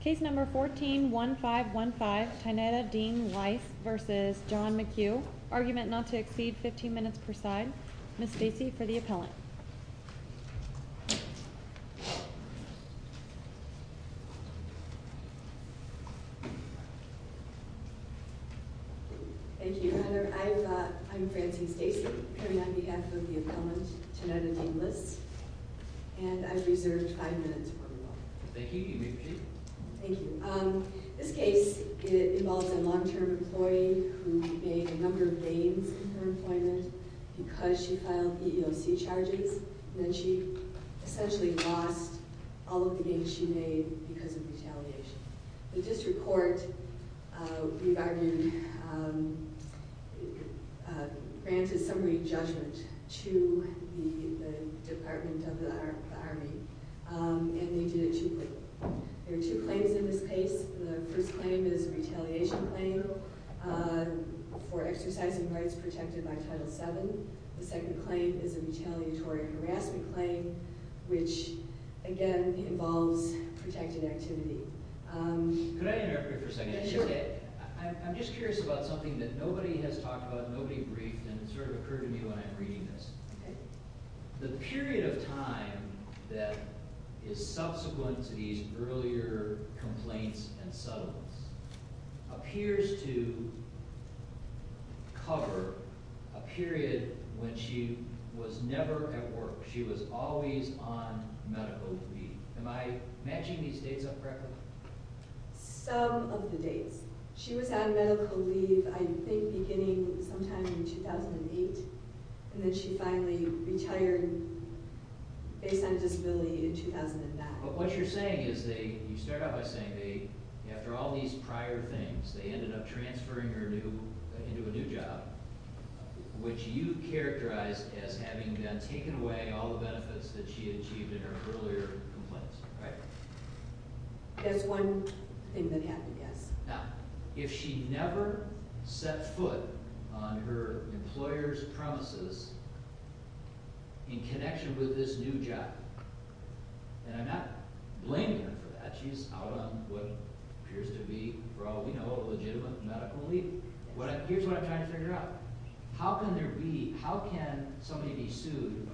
Case No. 14-1515, Tynnetta Dean-Lis v. John McHugh Argument not to exceed 15 minutes per side Ms. Stacy for the appellant Thank you, Your Honor. I'm Francie Stacy appearing on behalf of the appellant, Tynnetta Dean-Lis and I've reserved five minutes for rebuttal Thank you. You may proceed Thank you. This case involves a long-term employee who made a number of gains in her employment because she filed EEOC charges and then she essentially lost all of the gains she made because of retaliation The district court, we've argued, granted summary judgment to the Department of the Army and they did it cheaply There are two claims in this case The first claim is a retaliation claim for exercising rights protected by Title VII The second claim is a retaliatory harassment claim which, again, involves protected activity Could I interrupt you for a second? Sure I'm just curious about something that nobody has talked about and nobody briefed and it sort of occurred to me when I'm reading this The period of time that is subsequent to these earlier complaints and settlements appears to cover a period when she was never at work She was always on medical leave Am I matching these dates up correctly? Some of the dates She was on medical leave, I think, beginning sometime in 2008 and then she finally retired based on disability in 2009 But what you're saying is you start out by saying after all these prior things they ended up transferring her into a new job which you characterize as having taken away all the benefits that she achieved in her earlier complaints Right? That's one thing that happened, yes Now, if she never set foot on her employer's premises in connection with this new job and I'm not blaming her for that She's out on what appears to be, for all we know, a legitimate medical leave Here's what I'm trying to figure out How can there be How can somebody be sued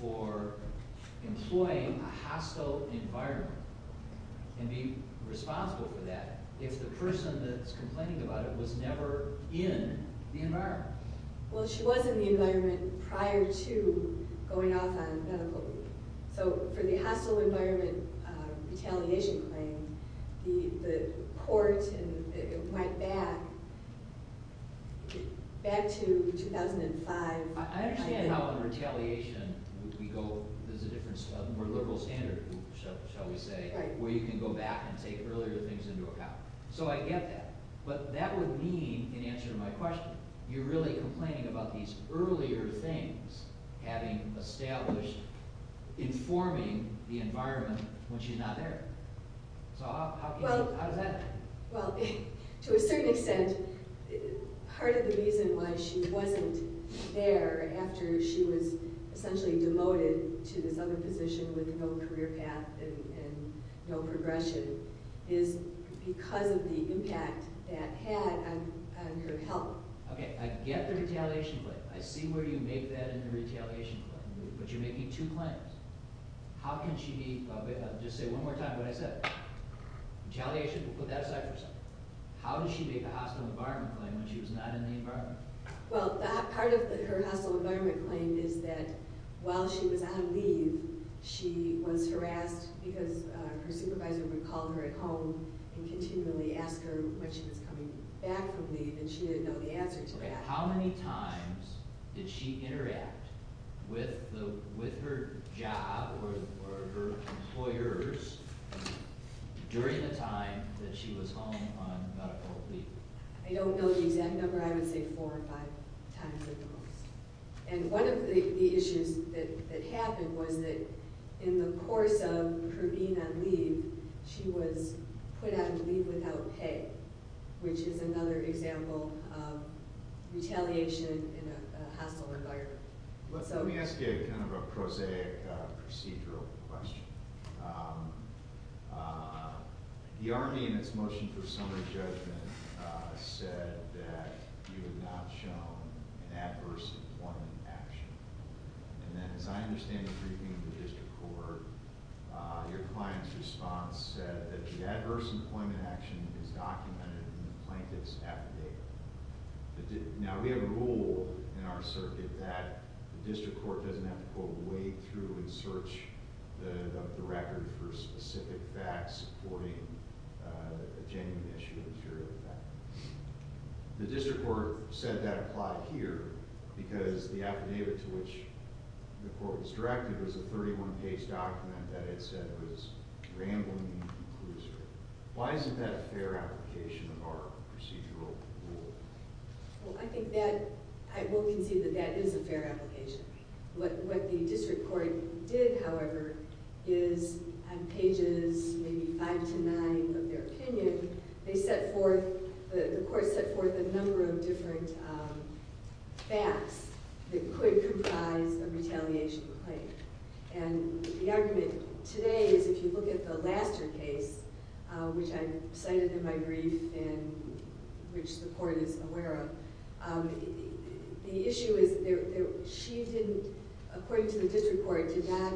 for employing a hostile environment and be responsible for that if the person that's complaining about it was never in the environment? Well, she was in the environment prior to going off on medical leave So, for the hostile environment retaliation claim the court went back back to 2005 I understand how on retaliation we go, there's a difference a more liberal standard, shall we say where you can go back and take earlier things into account So, I get that But that would mean, in answer to my question you're really complaining about these earlier things having established informing the environment when she's not there So, how is that? Well, to a certain extent part of the reason why she wasn't there after she was essentially demoted to this other position with no career path and no progression is because of the impact that had on her health Okay, I get the retaliation claim I see where you make that in the retaliation claim But you're making two claims How can she be I'll just say one more time what I said Retaliation, we'll put that aside for a second How did she make a hostile environment claim when she was not in the environment? Well, part of her hostile environment claim is that while she was on leave she was harassed because her supervisor would call her at home and continually ask her when she was coming back from leave and she didn't know the answer to that Okay, how many times did she interact with her job or her employers during the time that she was home on medical leave? I don't know the exact number I would say four or five times at the most And one of the issues that happened was that in the course of her being on leave she was put out of leave without pay which is another example of retaliation in a hostile environment Let me ask you kind of a prosaic procedural question The Army in its motion for summary judgment said that you have not shown an adverse employment action And then as I understand the briefing of the district court your client's response said that the adverse employment action is documented in the plaintiff's affidavit Now we have a rule in our circuit that the district court doesn't have to go way through and search the record for specific facts supporting a genuine issue of inferior effect The district court said that applied here because the affidavit to which the court was directed was a 31-page document that it said was rambling and conclusive Why isn't that a fair application of our procedural rule? Well I think that, I will concede that that is a fair application What the district court did however is on pages maybe 5-9 of their opinion they set forth, the court set forth a number of different facts that could comprise a retaliation claim And the argument today is if you look at the Laster case which I cited in my brief and which the court is aware of The issue is, she didn't According to the district court, did not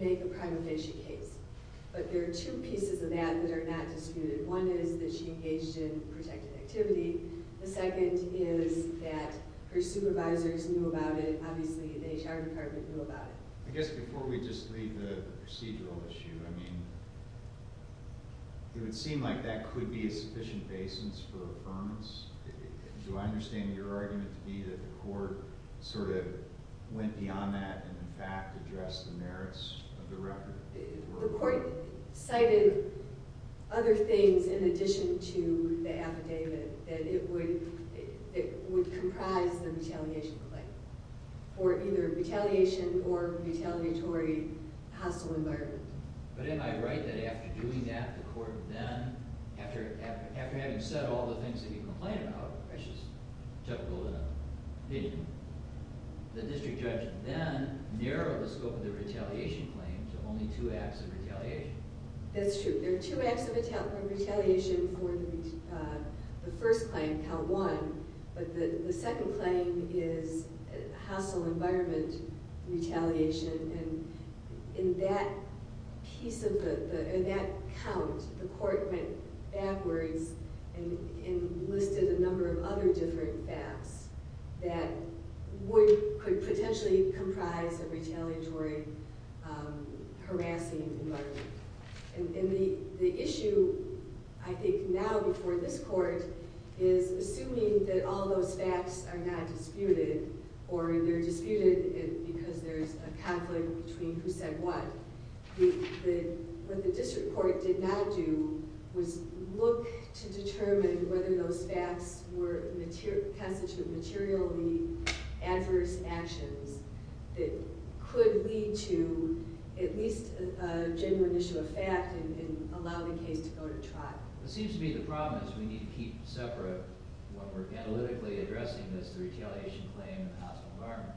make a prima facie case But there are two pieces of that that are not disputed One is that she engaged in protected activity The second is that her supervisors knew about it Obviously the HR department knew about it I guess before we just leave the procedural issue I mean, it would seem like that could be a sufficient basis for affirmance Do I understand your argument to be that the court sort of went beyond that and in fact addressed the merits of the record? The court cited other things in addition to the affidavit that it would comprise the retaliation claim for either retaliation or retaliatory hostile environment But am I right that after doing that the court then after having said all the things that you complained about which is Chuck Goldin The district judge then narrowed the scope of the retaliation claim to only two acts of retaliation That's true, there are two acts of retaliation for the first claim, count one but the second claim is hostile environment retaliation and in that piece of the in that count, the court went backwards and listed a number of other different facts that could potentially comprise a retaliatory harassing environment and the issue I think now before this court is assuming that all those facts are not disputed or they're disputed because there's a conflict between who said what What the district court did not do was look to determine whether those facts were constituted materially adverse actions that could lead to at least a genuine issue of fact and allow the case to go to trial It seems to be the problem is we need to keep separate what we're analytically addressing is the retaliation claim and the hostile environment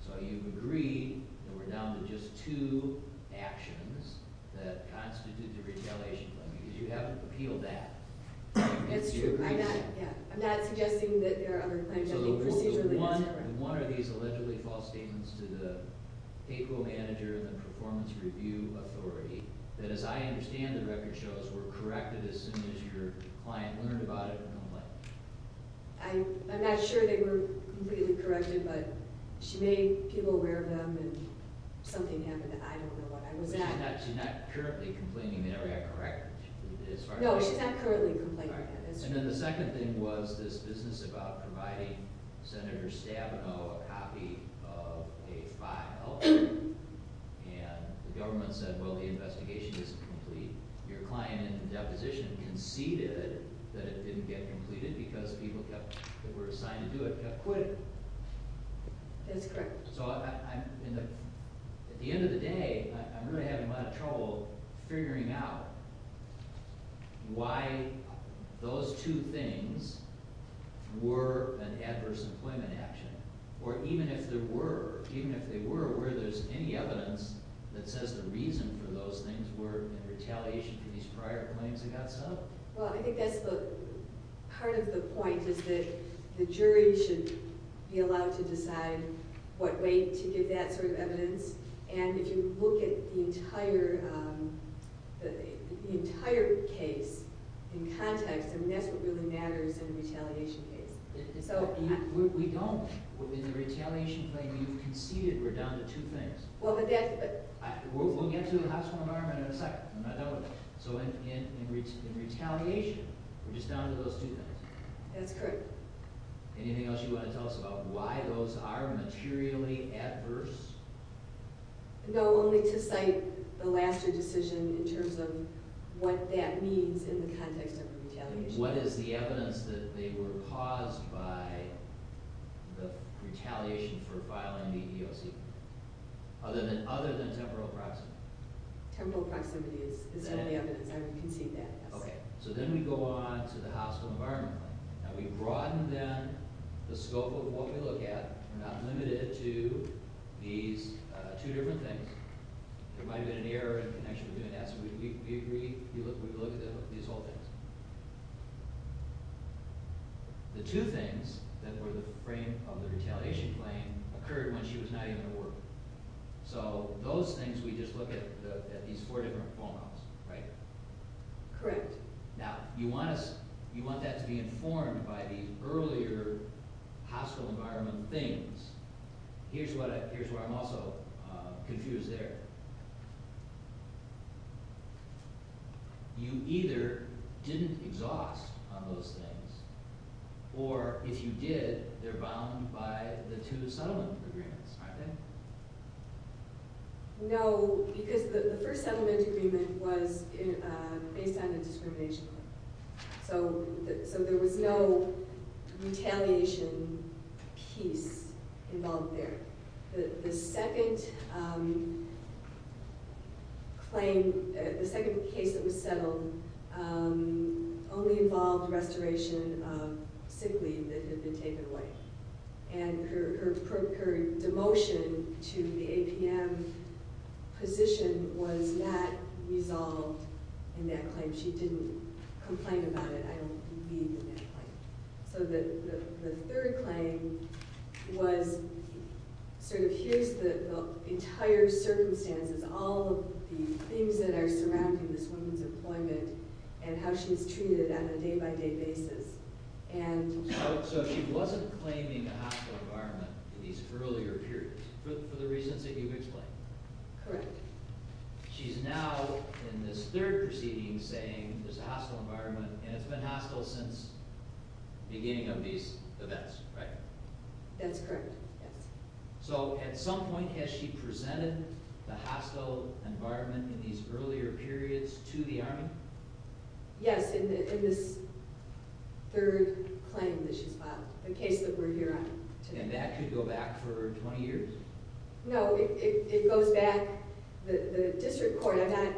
So you agree that we're down to just two actions that constitute the retaliation claim because you haven't appealed that That's true, yeah I'm not suggesting that there are other claims So the one of these allegedly false statements to the payroll manager and the performance review authority that as I understand the record shows were corrected as soon as your client learned about it and went away I'm not sure they were completely corrected but she made people aware of them and something happened that I don't know what She's not currently complaining they never got corrected No, she's not currently complaining And then the second thing was this business about providing Senator Stabenow a copy of a file and the government said, well, the investigation isn't complete Your client in the deposition conceded that it didn't get completed because people that were assigned to do it That's correct So at the end of the day I'm really having a lot of trouble figuring out why those two things were an adverse employment action or even if they were where there's any evidence that says the reason for those things were in retaliation for these prior claims that got subbed Well, I think that's part of the point is that the jury should be allowed to decide what way to give that sort of evidence and if you look at the entire case in context I mean, that's what really matters in a retaliation case We don't, in the retaliation claim you've conceded we're down to two things Well, but that's We'll get to the hospital environment in a second So in retaliation, we're just down to those two things That's correct Anything else you want to tell us about why those are materially adverse? No, only to cite the last year decision in terms of what that means in the context of the retaliation What is the evidence that they were caused by the retaliation for filing the EEOC? Other than temporal proximity Temporal proximity is the evidence I would concede that, yes So then we go on to the hospital environment Now, we broaden, then, the scope of what we look at We're not limited to these two different things There might have been an error in connection with doing that So we look at these whole things The two things that were the frame of the retaliation claim occurred when she was not even at work So those things we just look at at these four different phone calls, right? Correct Now, you want that to be informed by the earlier hospital environment things Here's where I'm also confused there You either didn't exhaust on those things or, if you did, they're bound by the two settlement agreements Aren't they? No, because the first settlement agreement was based on a discrimination claim So there was no retaliation piece involved there The second claim, the second case that was settled only involved restoration of sick leave that had been taken away And her demotion to the APM position was not resolved in that claim She didn't complain about it I don't believe in that claim So the third claim was sort of, here's the entire circumstances all of the things that are surrounding this woman's employment and how she's treated on a day-by-day basis So she wasn't claiming a hospital environment in these earlier periods for the reasons that you've explained Correct She's now, in this third proceeding, saying there's a hospital environment and it's been hostile since the beginning of these events, right? That's correct, yes So, at some point, has she presented the hospital environment in these earlier periods to the Army? Yes, in this third claim that she's filed the case that we're here on today And that could go back for 20 years? No, it goes back the district court I'm not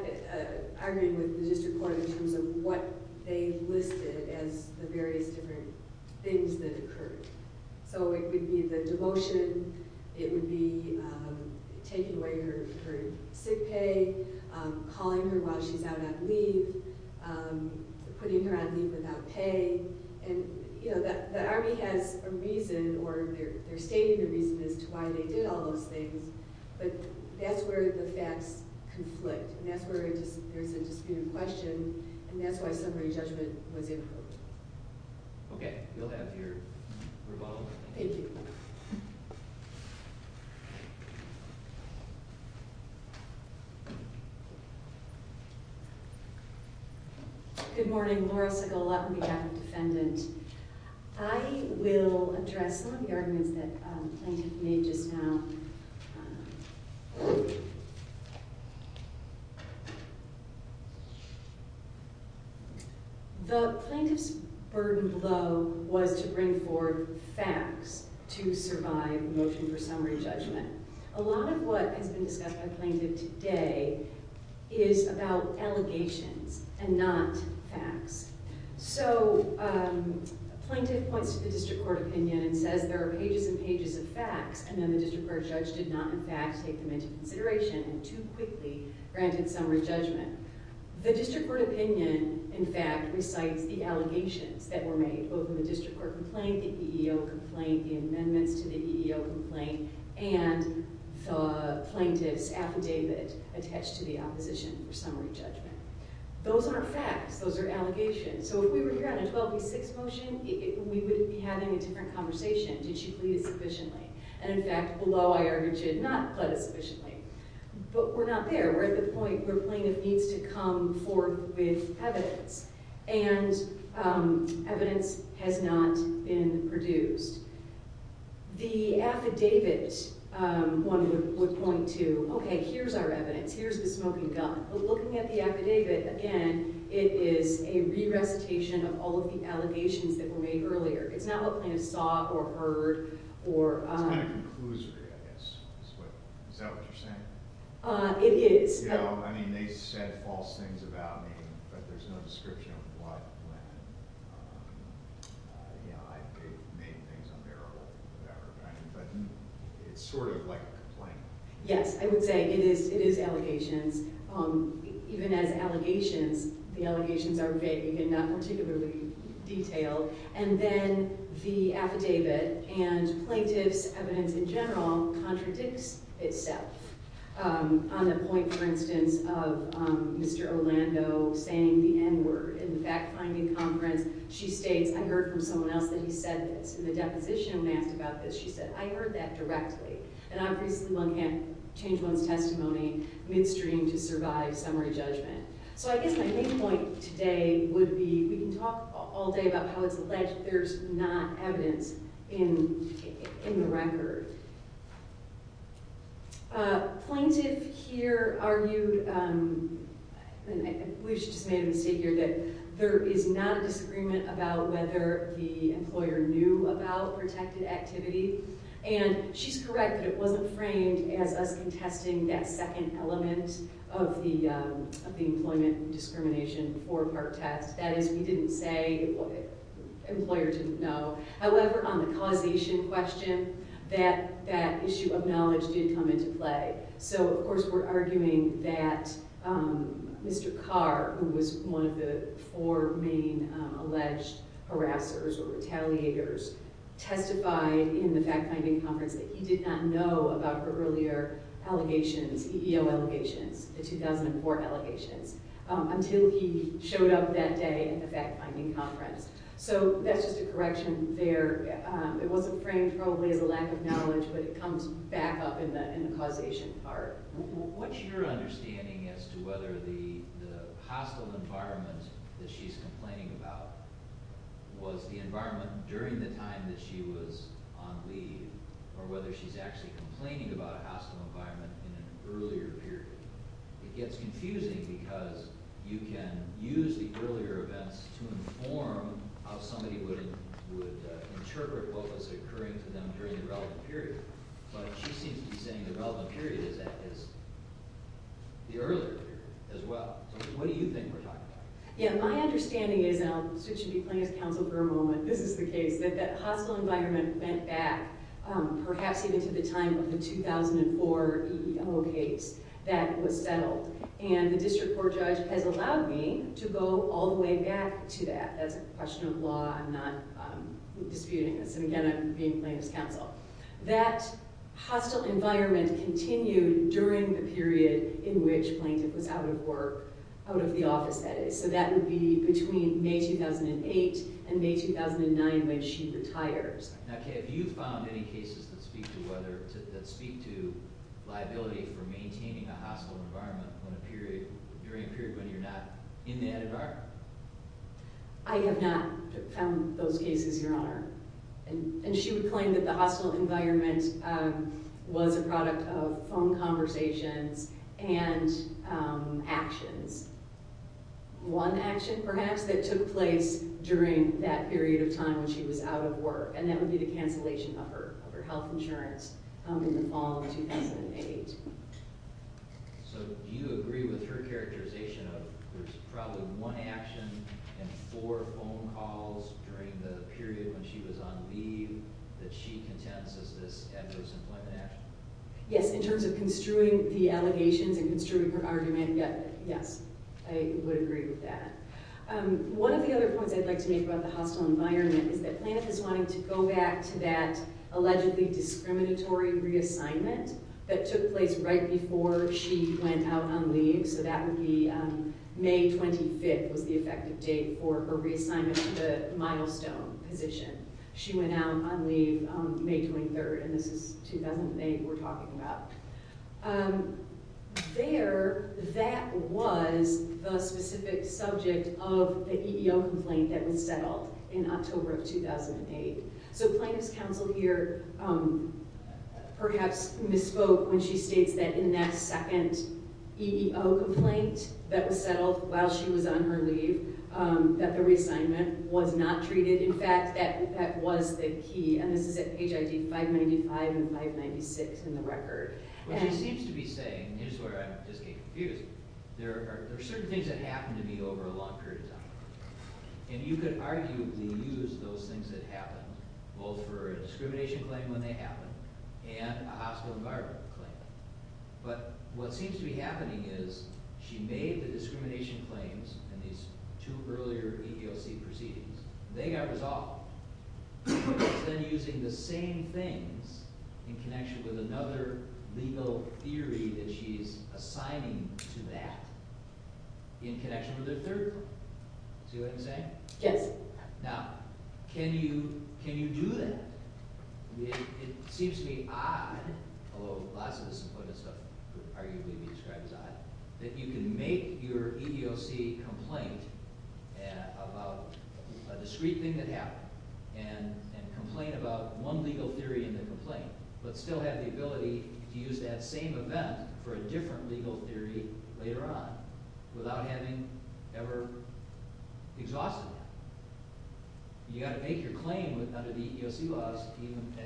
arguing with the district court in terms of what they listed as the various different things that occurred So it would be the demotion it would be taking away her sick pay calling her while she's out on leave putting her on leave without pay And, you know, the Army has a reason or they're stating the reason as to why they did all those things but that's where the facts conflict and that's where there's a disputed question and that's why summary judgment was improved Okay, we'll have your rebuttal Thank you Good morning, Laura Segal on behalf of Defendant I will address some of the arguments that the plaintiff made just now The plaintiff's burden below was to bring forward facts to survive motion for summary judgment A lot of what has been discussed by the plaintiff today is about allegations and not facts So the plaintiff points to the district court opinion and says there are pages and pages of facts and then the district court judge did not in fact take them into consideration and too quickly granted summary judgment The district court opinion in fact recites the allegations that were made both in the district court complaint the EEO complaint the amendments to the EEO complaint and the plaintiff's affidavit attached to the opposition for summary judgment Those aren't facts Those are allegations So if we were here on a 12 v. 6 motion we wouldn't be having a different conversation Did she plead it sufficiently? And in fact below I argued she did not plead it sufficiently But we're not there We're at the point where the plaintiff needs to come forward with evidence and evidence has not been produced The affidavit would point to Okay, here's our evidence Here's the smoking gun But looking at the affidavit again it is a re-recitation of all of the allegations that were made earlier It's not what plaintiff saw or heard It's kind of conclusory I guess Is that what you're saying? It is You know, I mean they said false things about me but there's no description of what when I made things unbearable or whatever But it's sort of like a complaint Yes, I would say it is allegations Even as allegations the allegations are vague and not particularly detailed And then the affidavit and plaintiff's evidence in general contradicts itself On the point for instance of Mr. Orlando saying the N-word in the fact-finding conference She states I heard from someone else that he said this In the deposition when asked about this she said I heard that directly And obviously one can't change one's testimony midstream to survive summary judgment So I guess my main point today would be we can talk all day about how it's alleged there's not evidence in the record Plaintiff here argued I believe she just made a mistake here that there is not a disagreement about whether the employer knew about protected activity And she's correct that it wasn't framed as us contesting that second element of the employment discrimination before part test That is we didn't say the employer didn't know However on the causation question that issue of knowledge did come into play So of course we're arguing that Mr. Carr who was one of the four main alleged harassers or retaliators testified in the fact-finding conference that he did not know about her earlier allegations EEO allegations the 2004 allegations until he showed up that day in the fact-finding conference So that's just a correction there It wasn't framed probably as a lack of knowledge but it comes back up in the causation part What's your understanding as to whether the hostile environment that she's complaining about was the environment during the time that she was on leave or whether she's actually complaining about a hostile environment in an earlier period It gets confusing because you can use the earlier events to inform how somebody would interpret what was occurring to them during the relevant period But she seems to be saying the relevant period is the earlier period as well So what do you think we're talking about? Yeah, my understanding is and I'll switch and be playing as counsel for a moment This is the case that that hostile environment went back perhaps even to the time of the 2004 EEO case that was settled And the district court judge has allowed me to go all the way back to that That's a question of law I'm not disputing this And again, I'm being playing as counsel That hostile environment continued during the period in which Plaintiff was out of work out of the office, that is So that would be between May 2008 and May 2009 when she retires Now Kay, have you found any cases that speak to whether, that speak to liability for maintaining a hostile environment when a period during a period when you're not in that environment? I have not found those cases, Your Honor And she would claim that the hostile environment was a product of phone conversations and actions One action perhaps that took place during that period of time when she was out of work and that would be the cancellation of her health insurance in the fall of 2008 So do you agree with her characterization of there's probably one action and four phone calls during the period when she was on leave that she contends as this adverse employment action? Yes, in terms of construing the allegations and construing her argument Yes, I would agree with that One of the other points I'd like to make about the hostile environment is that Planoff is wanting to go back to that allegedly discriminatory reassignment that took place right before she went out on leave So that would be May 25th was the effective date for her reassignment to the milestone position She went out on leave May 23rd and this is 2008 we're talking about There, that was the specific subject of the EEO complaint that was settled in October of 2008 So Planoff's counsel here perhaps misspoke when she states that in that second EEO complaint that was settled while she was on her leave that the reassignment was not treated In fact, that was the key and this is at page ID 595 and 596 in the record What she seems to be saying is where I just get confused There are certain things that happen to me over a long period of time and you could arguably use those things that happen both for a discrimination claim when they happen and a hospital environment claim but what seems to be happening is she made the discrimination claims and these two earlier EEOC proceedings they got resolved instead of using the same things in connection with another legal theory that she's assigning to that in connection with her third claim See what I'm saying? Yes Now, can you do that? It seems to be odd although lots of this employment stuff would arguably be described as odd that you can make your EEOC complaint about a discrete thing that happened and complain about one legal theory in the complaint but still have the ability to use that same event for a different legal theory later on without having ever exhausted that You gotta make your claim under the EEOC laws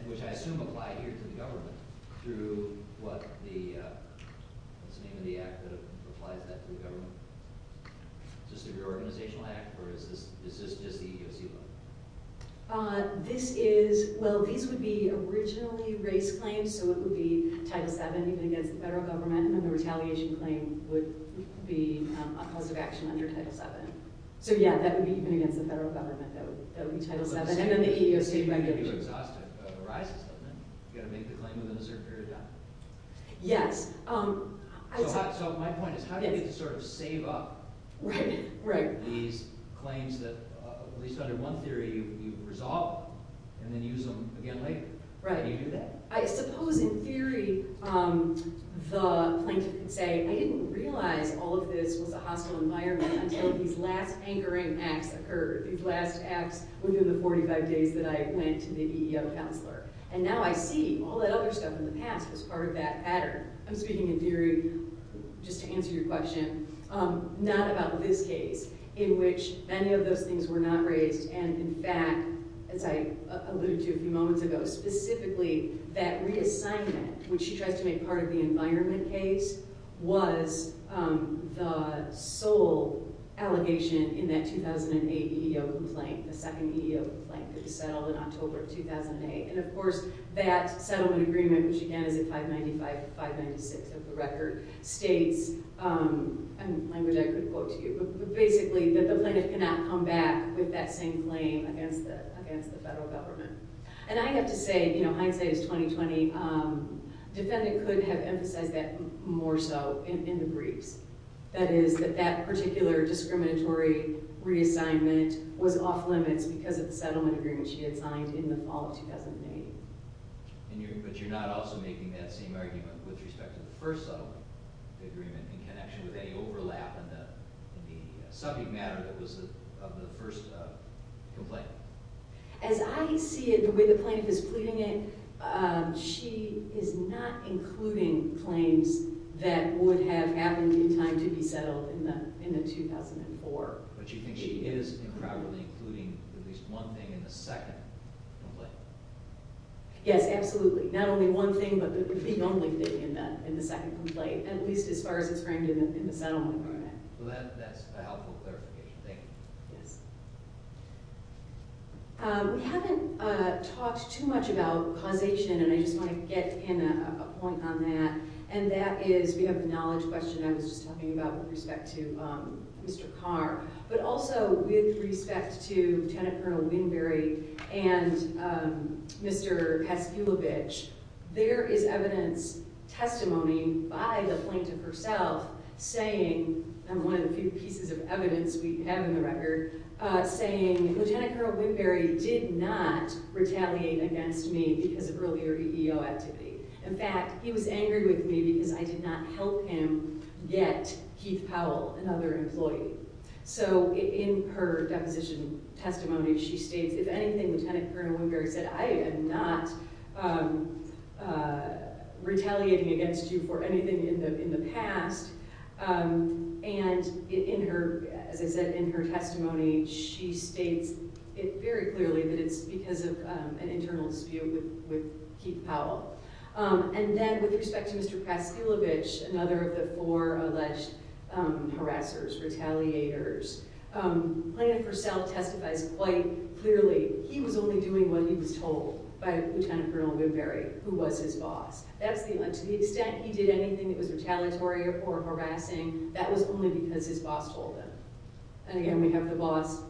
which I assume apply here to the government through what the what's the name of the act that applies that to the government? Is this an organizational act or is this just the EEOC law? This is well, these would be originally race claims so it would be Title VII even against the federal government and then the retaliation claim would be a positive action under Title VII So yeah, that would be even against the federal government that would be Title VII and then the EEOC regulation You gotta make the claim within a certain period of time Yes So my point is how do you sort of save up these claims that at least under one theory you resolve and then use them again later? How do you do that? I suppose in theory the plaintiff could say I didn't realize all of this was a hostile environment until these last anchoring acts occurred these last acts within the 45 days that I went to the EEO counselor and now I see all that other stuff in the past was part of that pattern I'm speaking in theory just to answer your question not about this case in which many of those things were not raised and in fact as I alluded to a few moments ago specifically that reassignment which she tries to make part of the environment case was the sole allegation in that 2008 EEO complaint the second EEO complaint that was settled in October of 2008 and of course that settlement agreement which again is a 595-596 of the record states a language I couldn't quote to you but basically that the plaintiff cannot come back with that same claim against the federal government and I have to say hindsight is 20-20 defendant could have emphasized that more so in the briefs that is that that particular discriminatory reassignment was off limits because of the settlement agreement she had signed in the fall of 2008 but you're not also making that same argument with respect to the first settlement agreement in connection with any overlap in the subject matter that was of the first complaint as I see it the way the plaintiff is pleading it she is not including claims that would have happened in time to be settled in the in the 2004 but you think she is incorporating at least one thing in the second complaint yes absolutely not only one thing but the only thing in the in the second complaint at least as far as it's framed in the settlement agreement well that that's a helpful clarification thank you yes we haven't talked too much about causation and I just want to get in a point on that and that is we have the knowledge question I was just talking about with respect to Mr. Carr but also with respect to Lieutenant Colonel Winbury and Mr. Kaskulovich there is evidence testimony by the plaintiff herself saying and one of the few pieces of evidence we have in the record saying Lieutenant Colonel Winbury did not retaliate against me because of earlier EO activity in fact he was angry with me because I did not help him get Keith Powell another employee so in her deposition testimony she states if anything Lieutenant Colonel Winbury said I am not retaliating against you for anything in the past and in her as I said in her testimony she states it very clearly that it's because of an internal dispute with Keith Powell and then with respect to Mr. Kaskulovich another of the four alleged harassers retaliators plaintiff herself testifies quite clearly he was only doing what he was told by Lieutenant Colonel Winbury who was his boss to the extent he did anything that was retaliatory or harassing that was only because his boss told him and again we have the boss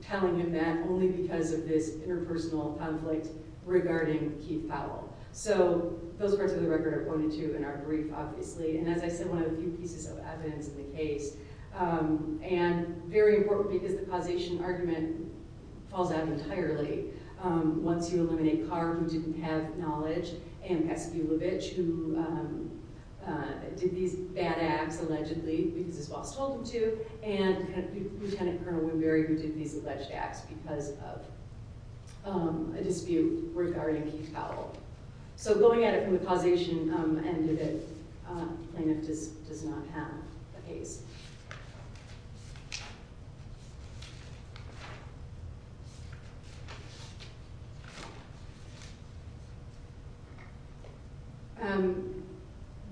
telling him that only because of this interpersonal conflict regarding Keith Powell so those parts of the record are pointed to in our brief obviously and as I said one of the few pieces of evidence in the case and very important because the causation argument falls out entirely once you eliminate Carr who didn't have knowledge and Kaskulovich who did these bad acts allegedly because his boss told him to and Lieutenant Colonel Winbury who did these alleged acts because of a dispute regarding Keith Powell so going at it from the causation end of it plaintiff does not have the case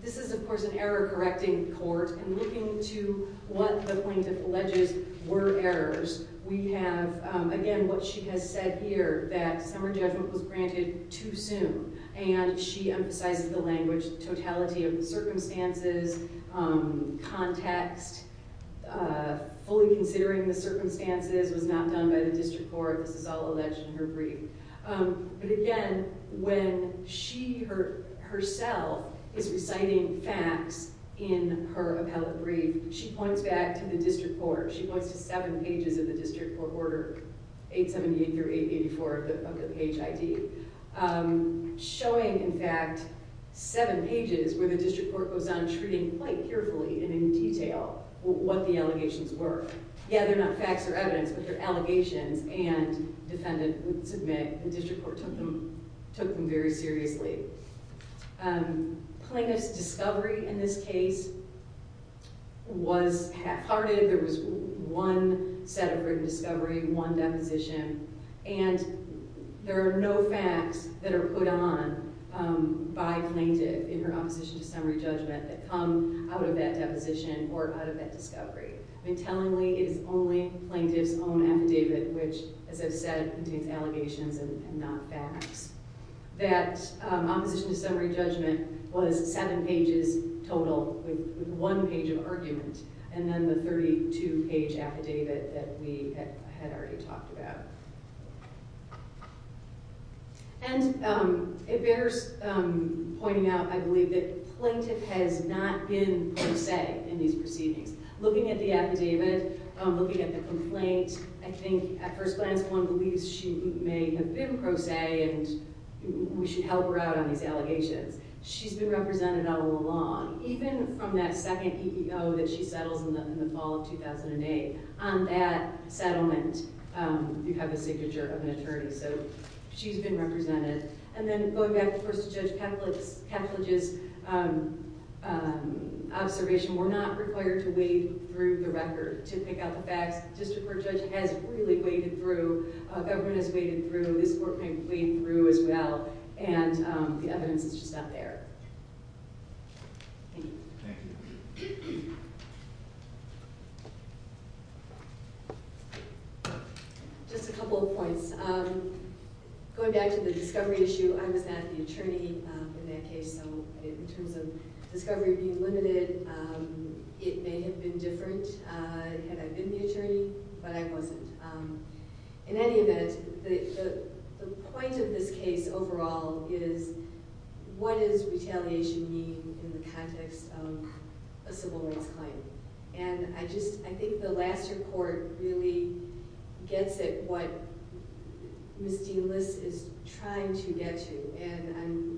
this is of course an error correcting court and looking to what the plaintiff alleges were errors we have again what she has said here that summer judgment was granted too soon and she emphasizes the language totality of the circumstances context fully considering the circumstances was not done by the district court this is all alleged in her brief but again when she herself is reciting facts in her appellate brief she points back to the district court she points to seven pages of the district court order 878-884 of the page ID showing in fact seven pages where the district court goes on treating quite carefully and in detail what the district court took them very seriously plaintiff's discovery in this case was half-hearted there was one set of written discovery one deposition and there are no facts that are put on by plaintiff in her opposition to summary judgment that come out of that deposition or out of that discovery I mean tellingly it is only plaintiff's own affidavit which as I said contains allegations and not facts that opposition to summary judgment was seven pages total with one page of argument and then the 32 page affidavit that we have in these proceedings looking at the affidavit looking at the complaint I think at first glance one believes she may have been pro se and we should help her out on these allegations she's been represented all along even from that second EEO that she settles in the fall of 2008 on that settlement you have a signature of an attorney so she's been represented and then going back of course to Judge Kavlage's observation we're not required to wade through the record to pick out the facts the district court judge has really waded through government has waded through this court may have waded through as well and the evidence is just not there just a couple of points going back to the discovery issue I was not the attorney in that case so in terms of discovery being limited it may have been different had I been the attorney but I wasn't in any event the point of this case overall is what does retaliation mean in the context of a civil rights claim and I think the last report really gets it what Ms. Dean-Liss is trying to get to and I'm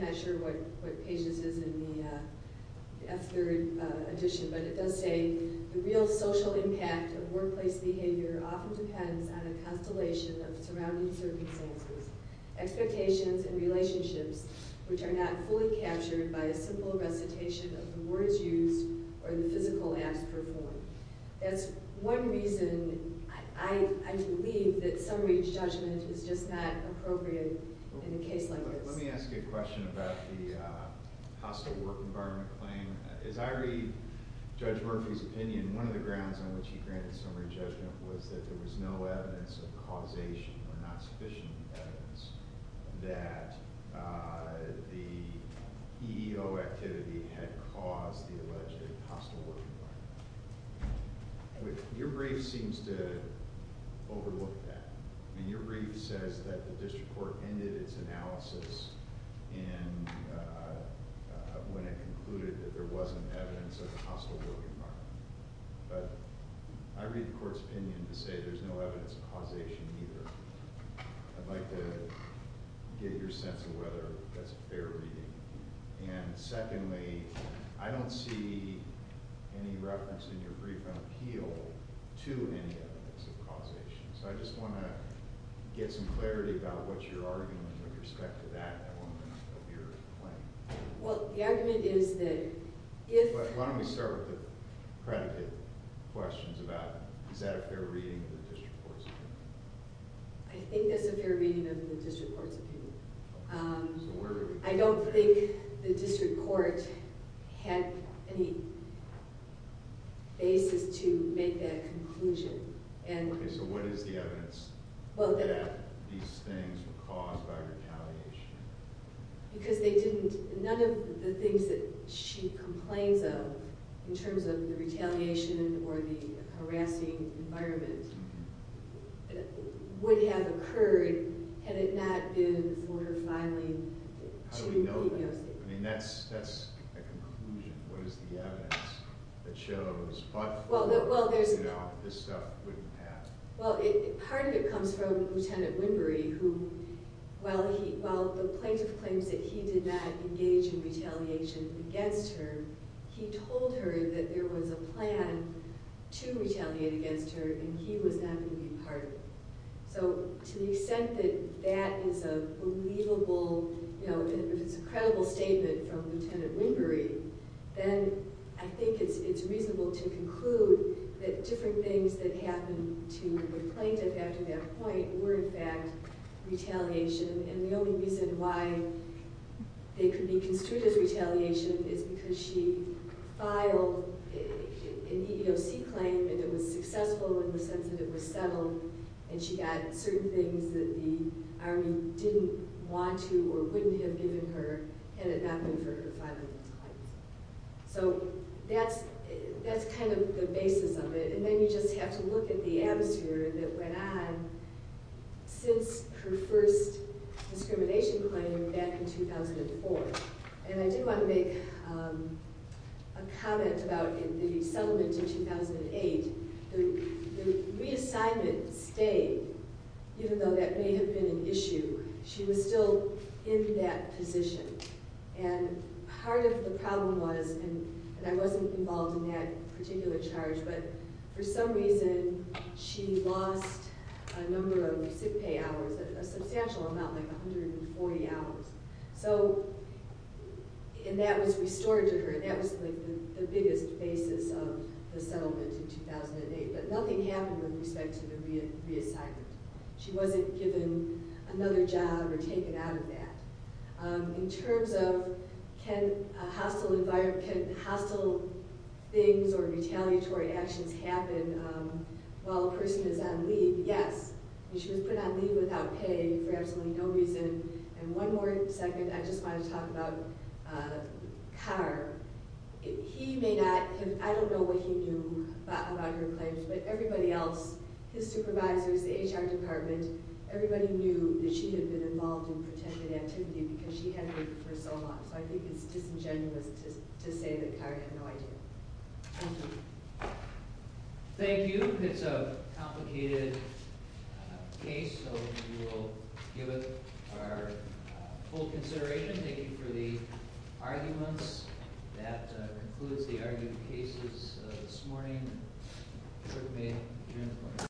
not sure what pages is in the F3 edition but it does say the real social impact of workplace behavior often depends on a constellation of surrounding circumstances expectations and relationships which are not fully captured by a simple recitation of the words used or the physical acts performed by individual in the case. So that's one reason I believe that summary judgment is just not appropriate in a case like this. Let me ask a question about the hostile work environment claim. As I read Judge Murphy's opinion, one of the grounds on which the EEO activity had caused the alleged hostile work environment, your brief seems to overlook that. Your brief says that the district court ended its analysis when it concluded that there wasn't evidence of the hostile work environment but I read the court's opinion to say there's no evidence of causation either. I'd like to get your sense of whether that's a fair reading. And secondly, I don't see any reference in your brief on appeal to any evidence of causation. So I just want to get some clarity about what your argument with respect to that element of your claim. Well, the argument is that if the district court had any basis to make that conclusion and... So what is the that these things were caused by retaliation? Because they didn't, none of the things that she complains of is that the plaintiff told her that there was a plan to retaliate against her and he was not going to be part of it. So to the extent that that is a believable, you know, if it's a credible statement from Lieutenant Wingery, then I think it's reasonable to conclude that different things that happened to the plaintiff after that point were in fact retaliation and the only reason why they could be construed as retaliation is because she filed an EEOC claim that was successful in the sense that it was settled and she got certain things that the plaintiff retaliate against her. So that's the basis of it and then you just have to look at the atmosphere that went on since her first discrimination claim back in 2004 and I did want to make a comment about the settlement in 2008. The reassignment stayed even though that may have been an issue. She was still in that position and part of the problem was and I wasn't involved in that particular charge but for some reason she lost a number of sick pay hours, a substantial amount like 140 hours so and that was restored to her. That was like the biggest basis of the settlement in 2008 but nothing happened with respect to the reassignment. She wasn't given another job or taken out of that. In terms of can hostile things or retaliatory actions happen while a person is on leave, yes. She was put on leave without pay for absolutely no reason and one more second I just want to talk about Carr. He may not have, I don't know what he knew about her claims but everybody else, his supervisors, the HR department, everybody knew that she had been involved in a very complicated case. So we will give it our full consideration. Thank you for the arguments. That concludes the argument cases this morning. Court is